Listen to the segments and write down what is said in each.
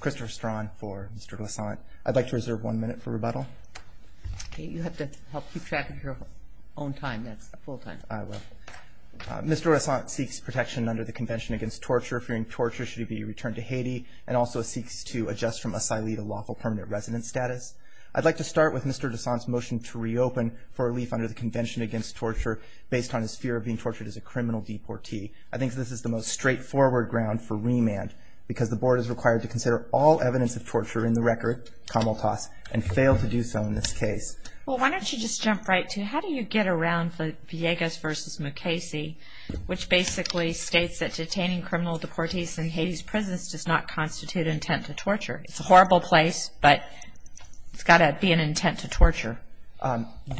Christopher Strawn for Mr. Doissaint. I'd like to reserve one minute for rebuttal. Okay, you have to help keep track of your own time. That's full time. I will. Mr. Doissaint seeks protection under the Convention Against Torture, fearing torture should he be returned to Haiti, and also seeks to adjust from asylee to lawful permanent resident status. I'd like to start with Mr. Doissaint's motion to reopen for relief under the Convention Against Torture based on his fear of being tortured as a criminal deportee. I think this is the most straightforward ground for remand because the board is required to consider all evidence of torture in the record, camel toss, and fail to do so in this case. Well, why don't you just jump right to it. How do you get around Villegas v. Mukasey, which basically states that detaining criminal deportees in Haiti's prisons does not constitute intent to torture? It's a horrible place, but it's got to be an intent to torture.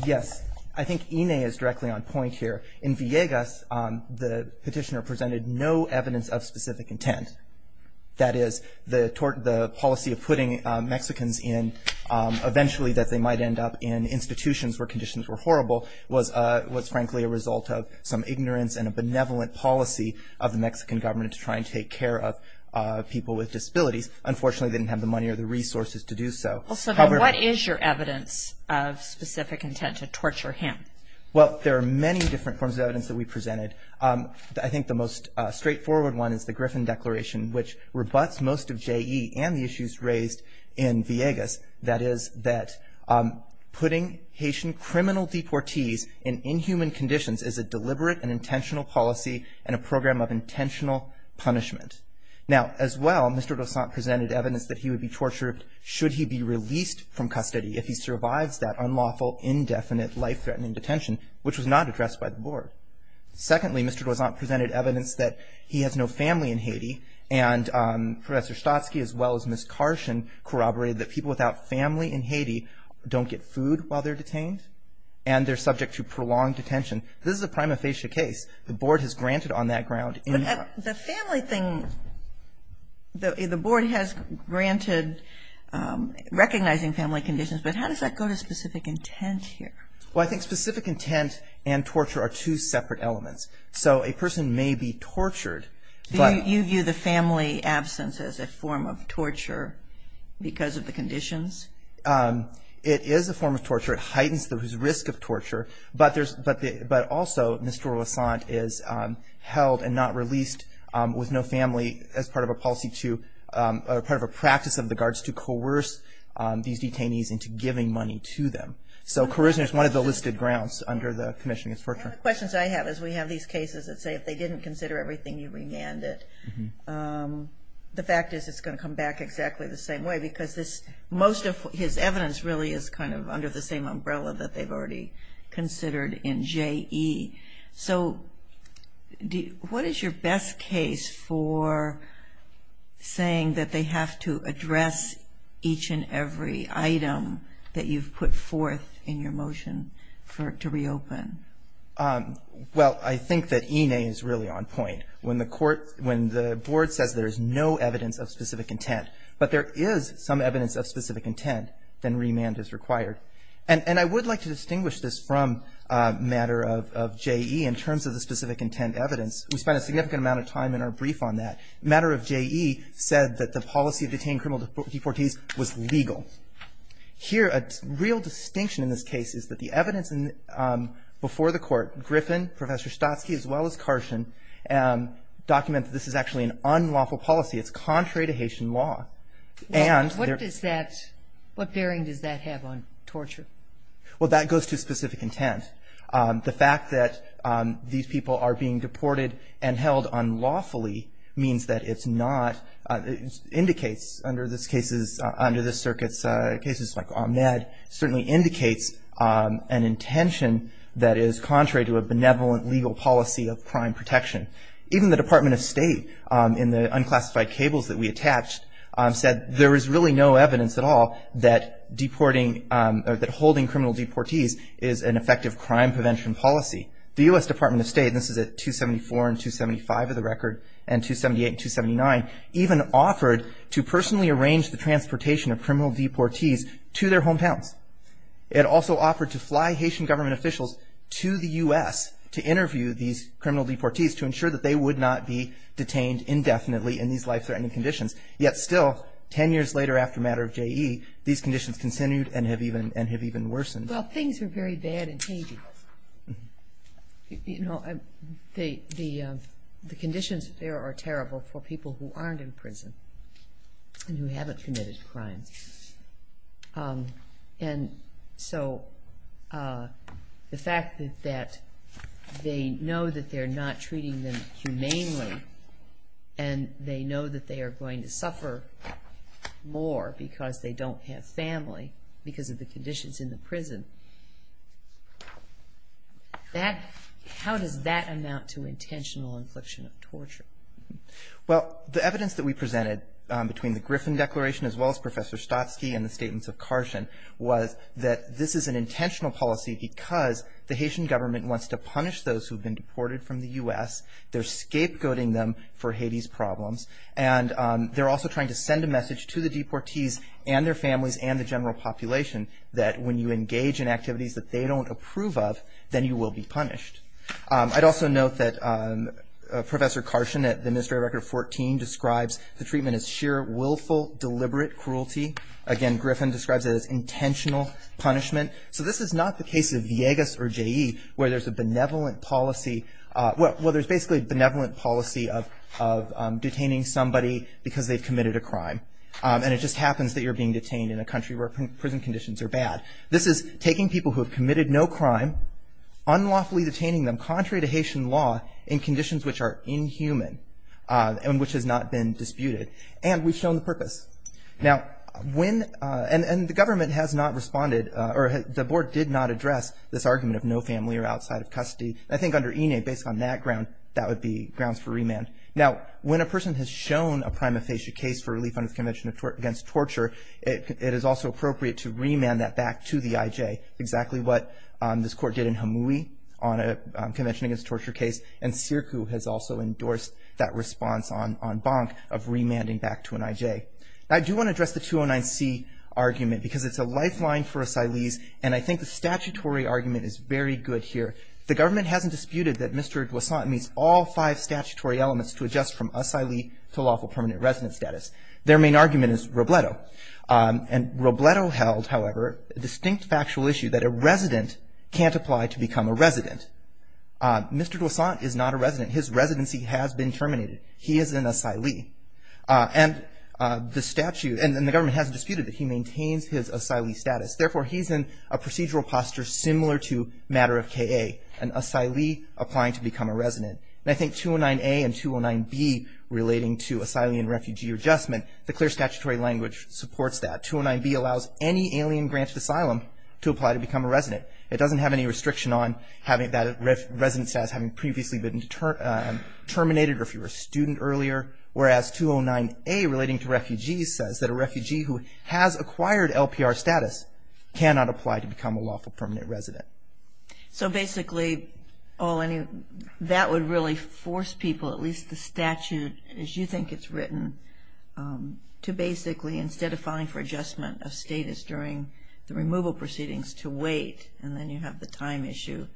Yes, I think Ine is directly on point here. In Villegas, the petitioner presented no evidence of specific intent. That is, the policy of putting Mexicans in, eventually that they might end up in institutions where conditions were horrible, was frankly a result of some ignorance and a benevolent policy of the Mexican government to try and take care of people with disabilities. Unfortunately, they didn't have the money or the resources to do so. What is your evidence of specific intent to torture him? Well, there are many different forms of evidence that we presented. I think the most straightforward one is the Griffin Declaration, which rebuts most of J.E. and the issues raised in Villegas. That is that putting Haitian criminal deportees in inhuman conditions is a deliberate and intentional policy and a program of intentional punishment. Now, as well, Mr. Dossant presented evidence that he would be tortured should he be released from custody if he survives that unlawful, indefinite, life-threatening detention, which was not addressed by the board. Secondly, Mr. Dossant presented evidence that he has no family in Haiti, and Professor Stotsky, as well as Ms. Karshen, corroborated that people without family in Haiti don't get food while they're detained, and they're subject to prolonged detention. This is a prima facie case. The board has granted on that ground in- But the family thing, the board has granted recognizing family conditions, but how does that go to specific intent here? Well, I think specific intent and torture are two separate elements. So a person may be tortured, but- You view the family absence as a form of torture because of the conditions? It is a form of torture. It heightens the risk of torture, but also Mr. Dossant is held and not released with no family as part of a policy to- giving money to them. So charisma is one of the listed grounds under the commission against torture. One of the questions I have is we have these cases that say if they didn't consider everything, you remanded. The fact is it's going to come back exactly the same way because this- most of his evidence really is kind of under the same umbrella that they've already considered in JE. So what is your best case for saying that they have to address each and every item that you've put forth in your motion for it to reopen? Well, I think that ENA is really on point. When the board says there is no evidence of specific intent, but there is some evidence of specific intent, then remand is required. And I would like to distinguish this from a matter of JE in terms of the specific intent evidence. We spent a significant amount of time in our brief on that. A matter of JE said that the policy of detaining criminal deportees was legal. Here, a real distinction in this case is that the evidence before the court, Griffin, Professor Stotsky, as well as Carson, document that this is actually an unlawful policy. It's contrary to Haitian law. What does that-what bearing does that have on torture? Well, that goes to specific intent. The fact that these people are being deported and held unlawfully means that it's not-indicates under this circuit's cases like Ahmed, certainly indicates an intention that is contrary to a benevolent legal policy of crime protection. Even the Department of State, in the unclassified cables that we attached, said there is really no evidence at all that deporting-that holding criminal deportees is an effective crime prevention policy. The U.S. Department of State, and this is at 274 and 275 of the record, and 278 and 279, even offered to personally arrange the transportation of criminal deportees to their hometowns. It also offered to fly Haitian government officials to the U.S. to interview these criminal deportees to ensure that they would not be detained indefinitely in these life-threatening conditions. Yet still, ten years later after Matter of J.E., these conditions continued and have even-and have even worsened. Well, things are very bad in Haiti. You know, the conditions there are terrible for people who aren't in prison and who haven't committed crimes. And so the fact that they know that they're not treating them humanely and they know that they are going to suffer more because they don't have family because of the conditions in the prison, how does that amount to intentional infliction of torture? Well, the evidence that we presented between the Griffin Declaration as well as Professor Stotsky and the statements of Karshen was that this is an intentional policy because the Haitian government wants to punish those who have been deported from the U.S., they're scapegoating them for Haiti's problems, and they're also trying to send a message to the deportees and their families and the general population that when you engage in activities that they don't approve of, then you will be punished. I'd also note that Professor Karshen at the Ministry of Record 14 describes the treatment as sheer, willful, deliberate cruelty. Again, Griffin describes it as intentional punishment. So this is not the case of Viegas or J.E. where there's a benevolent policy, where there's basically a benevolent policy of detaining somebody because they've committed a crime and it just happens that you're being detained in a country where prison conditions are bad. This is taking people who have committed no crime, unlawfully detaining them contrary to Haitian law in conditions which are inhuman and which has not been disputed. And we've shown the purpose. Now, when, and the government has not responded, or the board did not address this argument of no family or outside of custody. I think under INE, based on that ground, that would be grounds for remand. Now, when a person has shown a prima facie case for relief under the Convention Against Torture, it is also appropriate to remand that back to the IJ, exactly what this court did in Hamoui on a Convention Against Torture case, and SIRCU has also endorsed that response on Bonk of remanding back to an IJ. Now, I do want to address the 209C argument because it's a lifeline for asylees and I think the statutory argument is very good here. The government hasn't disputed that Mr. Douassant meets all five statutory elements to adjust from asylee to lawful permanent resident status. Their main argument is Robledo. And Robledo held, however, a distinct factual issue that a resident can't apply to become a resident. Mr. Douassant is not a resident. His residency has been terminated. He is an asylee. And the statute, and the government hasn't disputed that he maintains his asylee status. Therefore, he's in a procedural posture similar to Matter of K.A., an asylee applying to become a resident. And I think 209A and 209B relating to asylee and refugee adjustment, the clear statutory language supports that. 209B allows any alien-granted asylum to apply to become a resident. It doesn't have any restriction on having that resident status having previously been terminated or if you were a student earlier. Whereas 209A relating to refugees says that a refugee who has acquired LPR status cannot apply to become a lawful permanent resident. So basically, that would really force people, at least the statute as you think it's written, to basically, instead of filing for adjustment of status during the removal proceedings, to wait and then you have the time issue.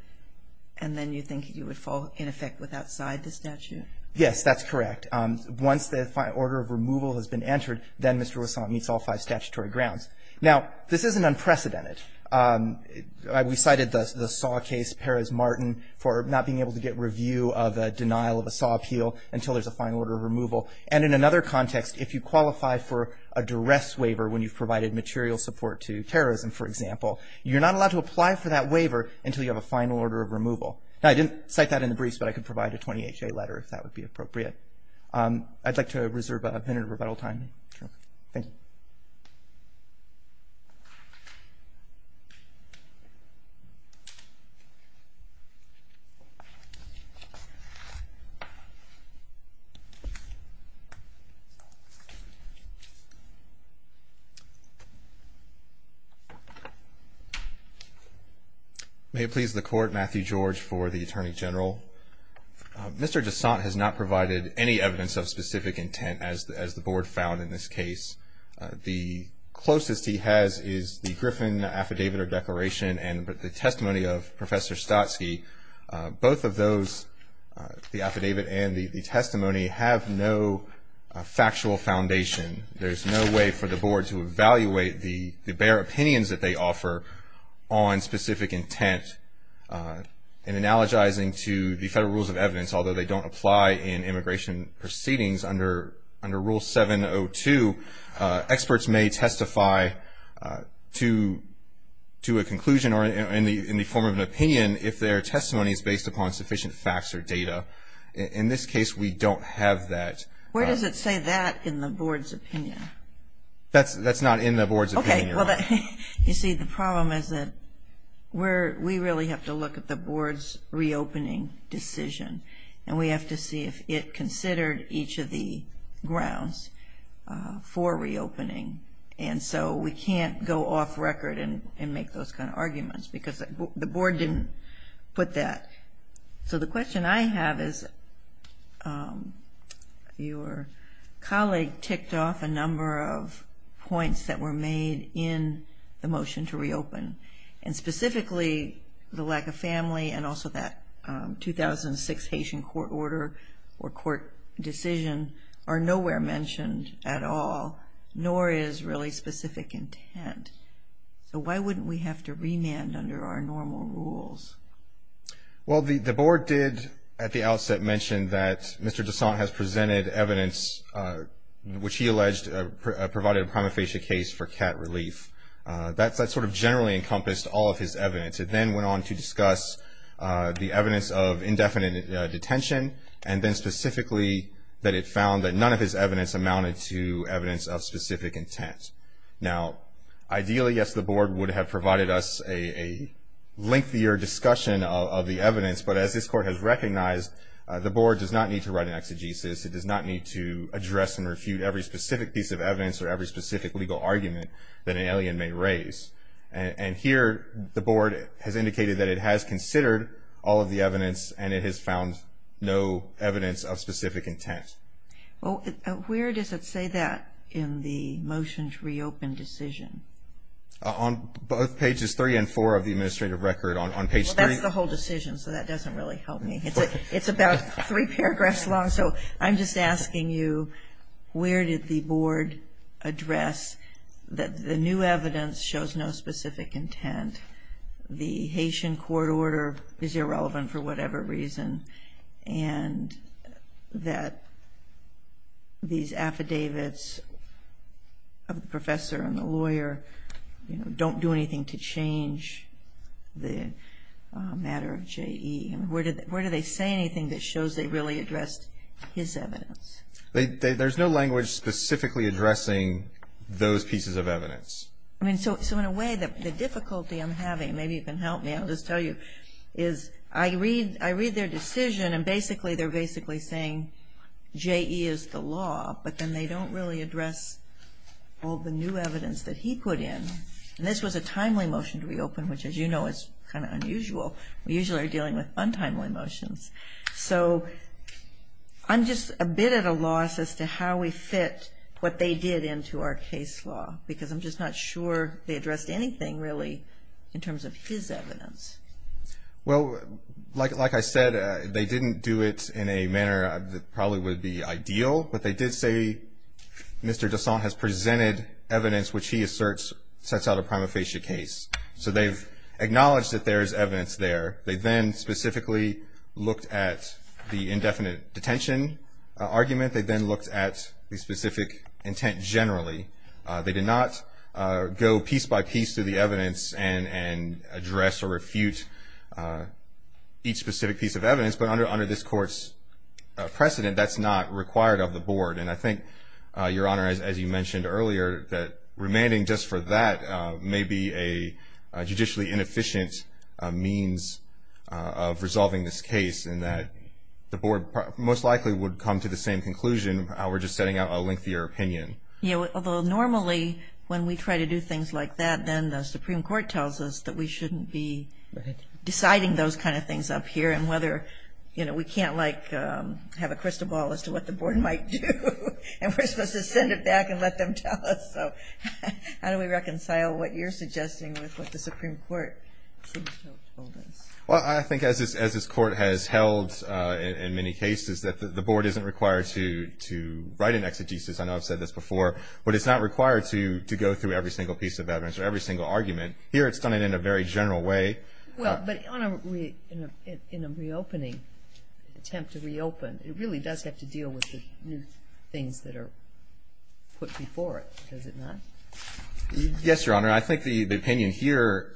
And then you think you would fall in effect with outside the statute? Yes, that's correct. Once the order of removal has been entered, then Mr. Douassant meets all five statutory grounds. Now, this isn't unprecedented. We cited the Saw case, Perez-Martin, for not being able to get review of a denial of a Saw appeal until there's a final order of removal. And in another context, if you qualify for a duress waiver when you've provided material support to terrorism, for example, you're not allowed to apply for that waiver until you have a final order of removal. Now, I didn't cite that in the briefs, but I could provide a 20HA letter if that would be appropriate. I'd like to reserve a minute of rebuttal time. Thank you. May it please the Court. Matthew George for the Attorney General. Mr. Douassant has not provided any evidence of specific intent, as the Board found in this case. The closest he has is the Griffin Affidavit or Declaration and the testimony of Professor Stotsky. Both of those, the affidavit and the testimony, have no factual foundation. There's no way for the Board to evaluate the bare opinions that they offer on specific intent. In analogizing to the Federal Rules of Evidence, although they don't apply in immigration proceedings under Rule 702, experts may testify to a conclusion or in the form of an opinion if their testimony is based upon sufficient facts or data. In this case, we don't have that. Where does it say that in the Board's opinion? That's not in the Board's opinion. You see, the problem is that we really have to look at the Board's reopening decision, and we have to see if it considered each of the grounds for reopening. And so we can't go off record and make those kind of arguments because the Board didn't put that. So the question I have is your colleague ticked off a number of points that were made in the motion to reopen, and specifically the lack of family and also that 2006 Haitian court order or court decision are nowhere mentioned at all, nor is really specific intent. So why wouldn't we have to remand under our normal rules? Well, the Board did at the outset mention that Mr. Dessant has presented evidence, which he alleged provided a prima facie case for cat relief. That sort of generally encompassed all of his evidence. It then went on to discuss the evidence of indefinite detention, and then specifically that it found that none of his evidence amounted to evidence of specific intent. Now, ideally, yes, the Board would have provided us a lengthier discussion of the evidence, but as this court has recognized, the Board does not need to write an exegesis. It does not need to address and refute every specific piece of evidence or every specific legal argument that an alien may raise. And here the Board has indicated that it has considered all of the evidence, and it has found no evidence of specific intent. Well, where does it say that in the motion to reopen decision? On both pages 3 and 4 of the administrative record on page 3. Well, that's the whole decision, so that doesn't really help me. It's about three paragraphs long, so I'm just asking you, where did the Board address that the new evidence shows no specific intent, the Haitian court order is irrelevant for whatever reason, and that these affidavits of the professor and the lawyer, you know, don't do anything to change the matter of J.E.? Where do they say anything that shows they really addressed his evidence? There's no language specifically addressing those pieces of evidence. I mean, so in a way, the difficulty I'm having, maybe you can help me, I'll just tell you, is I read their decision, and basically they're basically saying J.E. is the law, but then they don't really address all the new evidence that he put in. And this was a timely motion to reopen, which, as you know, is kind of unusual. We usually are dealing with untimely motions. So I'm just a bit at a loss as to how we fit what they did into our case law, because I'm just not sure they addressed anything really in terms of his evidence. Well, like I said, they didn't do it in a manner that probably would be ideal, but they did say Mr. Dessant has presented evidence which he asserts sets out a prima facie case. So they've acknowledged that there is evidence there. They then specifically looked at the indefinite detention argument. They then looked at the specific intent generally. They did not go piece by piece through the evidence and address or refute each specific piece of evidence. But under this court's precedent, that's not required of the board. And I think, Your Honor, as you mentioned earlier, that remanding just for that may be a judicially inefficient means of resolving this case in that the board most likely would come to the same conclusion. We're just setting out a lengthier opinion. Yeah, although normally when we try to do things like that, then the Supreme Court tells us that we shouldn't be deciding those kind of things up here and whether we can't have a crystal ball as to what the board might do and we're supposed to send it back and let them tell us. So how do we reconcile what you're suggesting with what the Supreme Court seems to have told us? Well, I think as this court has held in many cases that the board isn't required to write an exegesis. I know I've said this before. But it's not required to go through every single piece of evidence or every single argument. Here it's done it in a very general way. Well, but, Your Honor, in a reopening, attempt to reopen, it really does have to deal with the new things that are put before it, does it not? Yes, Your Honor. I think the opinion here,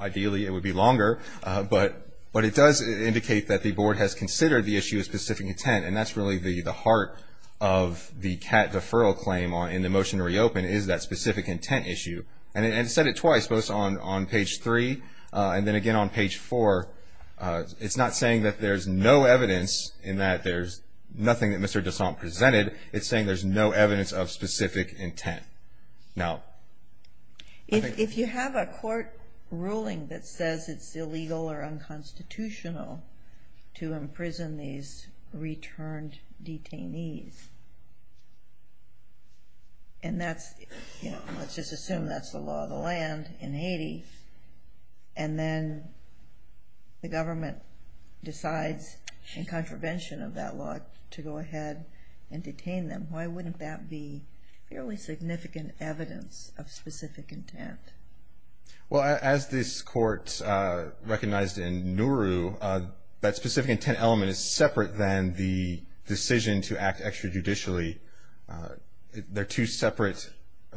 ideally it would be longer, but it does indicate that the board has considered the issue of specific intent, and that's really the heart of the cat deferral claim in the motion to reopen, is that specific intent issue. And it said it twice, both on page 3 and then again on page 4. It's not saying that there's no evidence in that there's nothing that Mr. DeSant presented. It's saying there's no evidence of specific intent. If you have a court ruling that says it's illegal or unconstitutional to imprison these returned detainees, and let's just assume that's the law of the land in Haiti, and then the government decides in contravention of that law to go ahead and detain them, why wouldn't that be fairly significant evidence of specific intent? Well, as this court recognized in NURU, that specific intent element is separate than the decision to act extrajudicially. They're two separate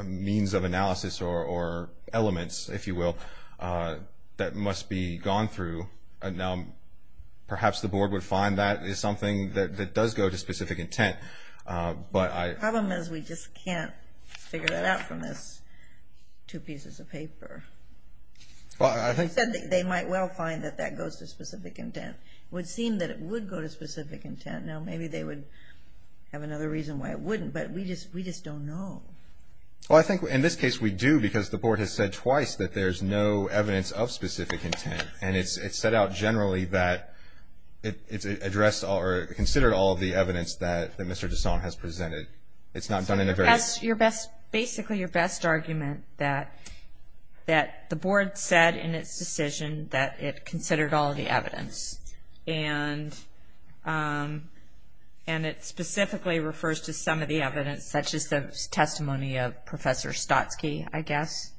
means of analysis or elements, if you will, that must be gone through. Perhaps the board would find that is something that does go to specific intent. The problem is we just can't figure that out from this two pieces of paper. They might well find that that goes to specific intent. It would seem that it would go to specific intent. Now, maybe they would have another reason why it wouldn't, but we just don't know. Well, I think in this case we do, because the board has said twice that there's no evidence of specific intent. And it's set out generally that it's considered all of the evidence that Mr. Desson has presented. It's not done in a very – Basically, your best argument that the board said in its decision that it considered all of the evidence, and it specifically refers to some of the evidence, such as the testimony of Professor Stotsky, I guess.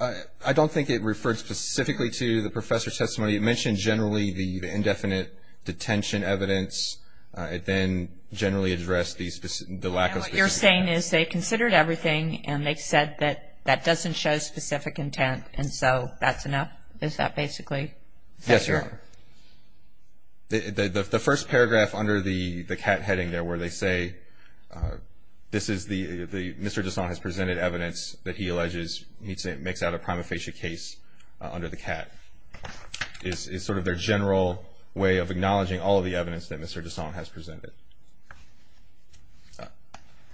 I don't think it referred specifically to the professor's testimony. It mentioned generally the indefinite detention evidence. It then generally addressed the lack of specific intent. And what you're saying is they considered everything, and they've said that that doesn't show specific intent, and so that's enough? Is that basically – Yes, Your Honor. The first paragraph under the cat heading there where they say this is the – makes out a prima facie case under the cat is sort of their general way of acknowledging all of the evidence that Mr. Desson has presented.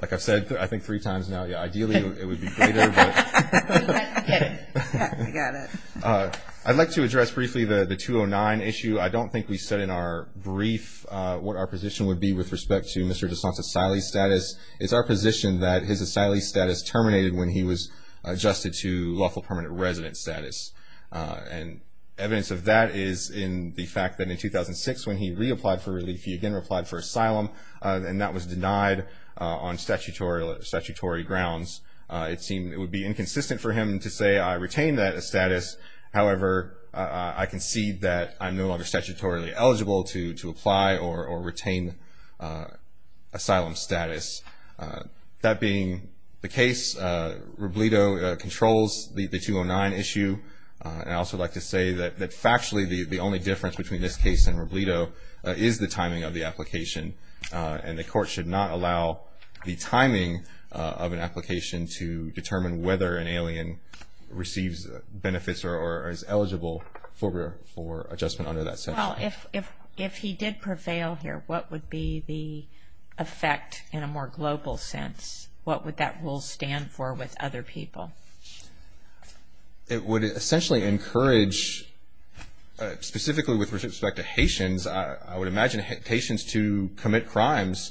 Like I've said, I think, three times now. Yeah, ideally it would be greater, but – Okay. I got it. I'd like to address briefly the 209 issue. I don't think we said in our brief what our position would be with respect to Mr. Desson's asylee status. It's our position that his asylee status terminated when he was adjusted to lawful permanent resident status. And evidence of that is in the fact that in 2006 when he reapplied for relief, he again applied for asylum, and that was denied on statutory grounds. It would be inconsistent for him to say, I retain that status. However, I concede that I'm no longer statutorily eligible to apply or retain asylum status. That being the case, Robledo controls the 209 issue. And I'd also like to say that factually the only difference between this case and Robledo is the timing of the application. And the court should not allow the timing of an application to determine whether an alien receives benefits or is eligible for adjustment under that statute. Well, if he did prevail here, what would be the effect in a more global sense? What would that rule stand for with other people? It would essentially encourage, specifically with respect to Haitians, I would imagine Haitians to commit crimes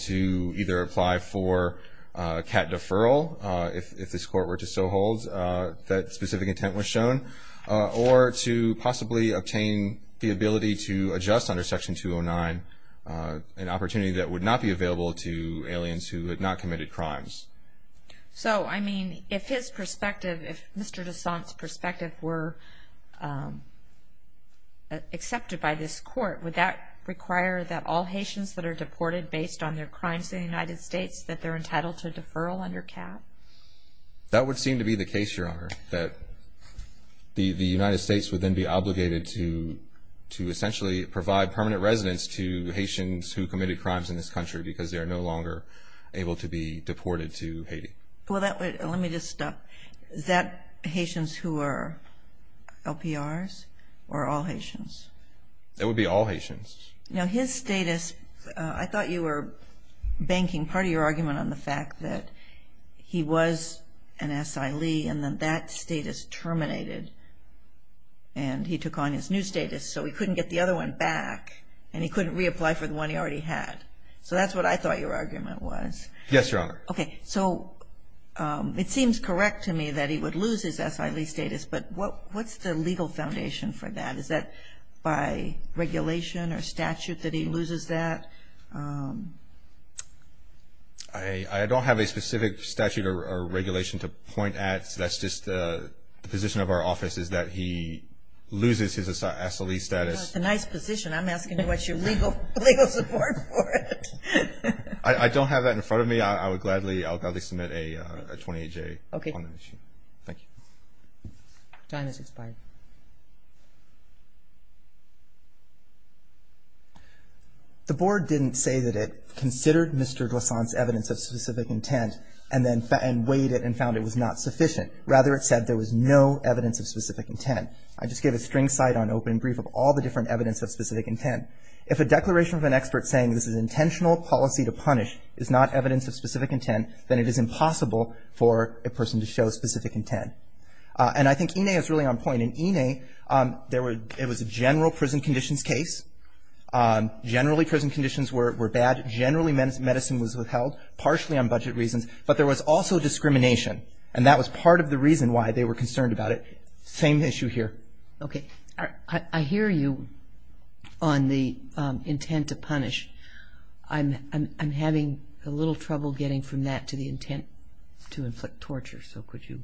to either apply for cat deferral, if this court were to so hold that specific intent was shown, or to possibly obtain the ability to adjust under Section 209, an opportunity that would not be available to aliens who had not committed crimes. So, I mean, if his perspective, if Mr. Dessant's perspective were accepted by this court, would that require that all Haitians that are deported based on their crimes in the United States, that they're entitled to deferral under cat? That would seem to be the case, Your Honor, that the United States would then be obligated to essentially provide permanent residence to Haitians who committed crimes in this country because they are no longer able to be deported to Haiti. Well, let me just stop. Is that Haitians who are LPRs or all Haitians? It would be all Haitians. Now, his status, I thought you were banking part of your argument on the fact that he was an asylee, and then that status terminated, and he took on his new status, so he couldn't get the other one back, and he couldn't reapply for the one he already had. So that's what I thought your argument was. Yes, Your Honor. Okay. So it seems correct to me that he would lose his asylee status, but what's the legal foundation for that? Is that by regulation or statute that he loses that? I don't have a specific statute or regulation to point at. That's just the position of our office is that he loses his asylee status. That's a nice position. I'm asking what's your legal support for it. I don't have that in front of me. I would gladly submit a 28-J on that issue. Okay. Thank you. Your time has expired. The board didn't say that it considered Mr. Glissant's evidence of specific intent and then weighed it and found it was not sufficient. Rather, it said there was no evidence of specific intent. I just gave a string cite on open brief of all the different evidence of specific intent. If a declaration of an expert saying this is an intentional policy to punish is not evidence of specific intent, then it is impossible for a person to show specific intent. And I think Ine is really on point. In Ine, there was a general prison conditions case. Generally, prison conditions were bad. Generally, medicine was withheld, partially on budget reasons. But there was also discrimination. And that was part of the reason why they were concerned about it. Same issue here. Okay. I hear you on the intent to punish. I'm having a little trouble getting from that to the intent to inflict torture. So could you?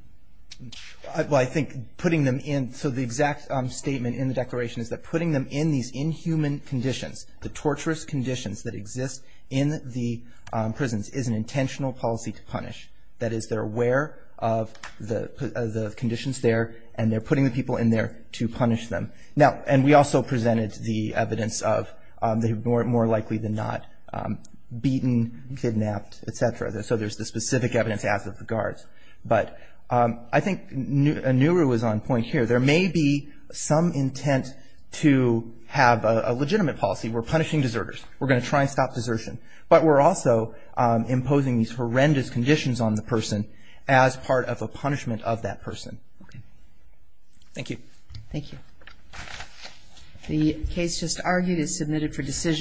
Well, I think putting them in. So the exact statement in the declaration is that putting them in these inhuman conditions, the torturous conditions that exist in the prisons, is an intentional policy to punish. That is, they're aware of the conditions there, and they're putting the people in there to punish them. Now, and we also presented the evidence of they were more likely than not beaten, kidnapped, et cetera. So there's the specific evidence as of the guards. But I think Nuru was on point here. There may be some intent to have a legitimate policy. We're punishing deserters. We're going to try and stop desertion. But we're also imposing these horrendous conditions on the person as part of a punishment of that person. Okay. Thank you. Thank you. The case just argued is submitted for decision.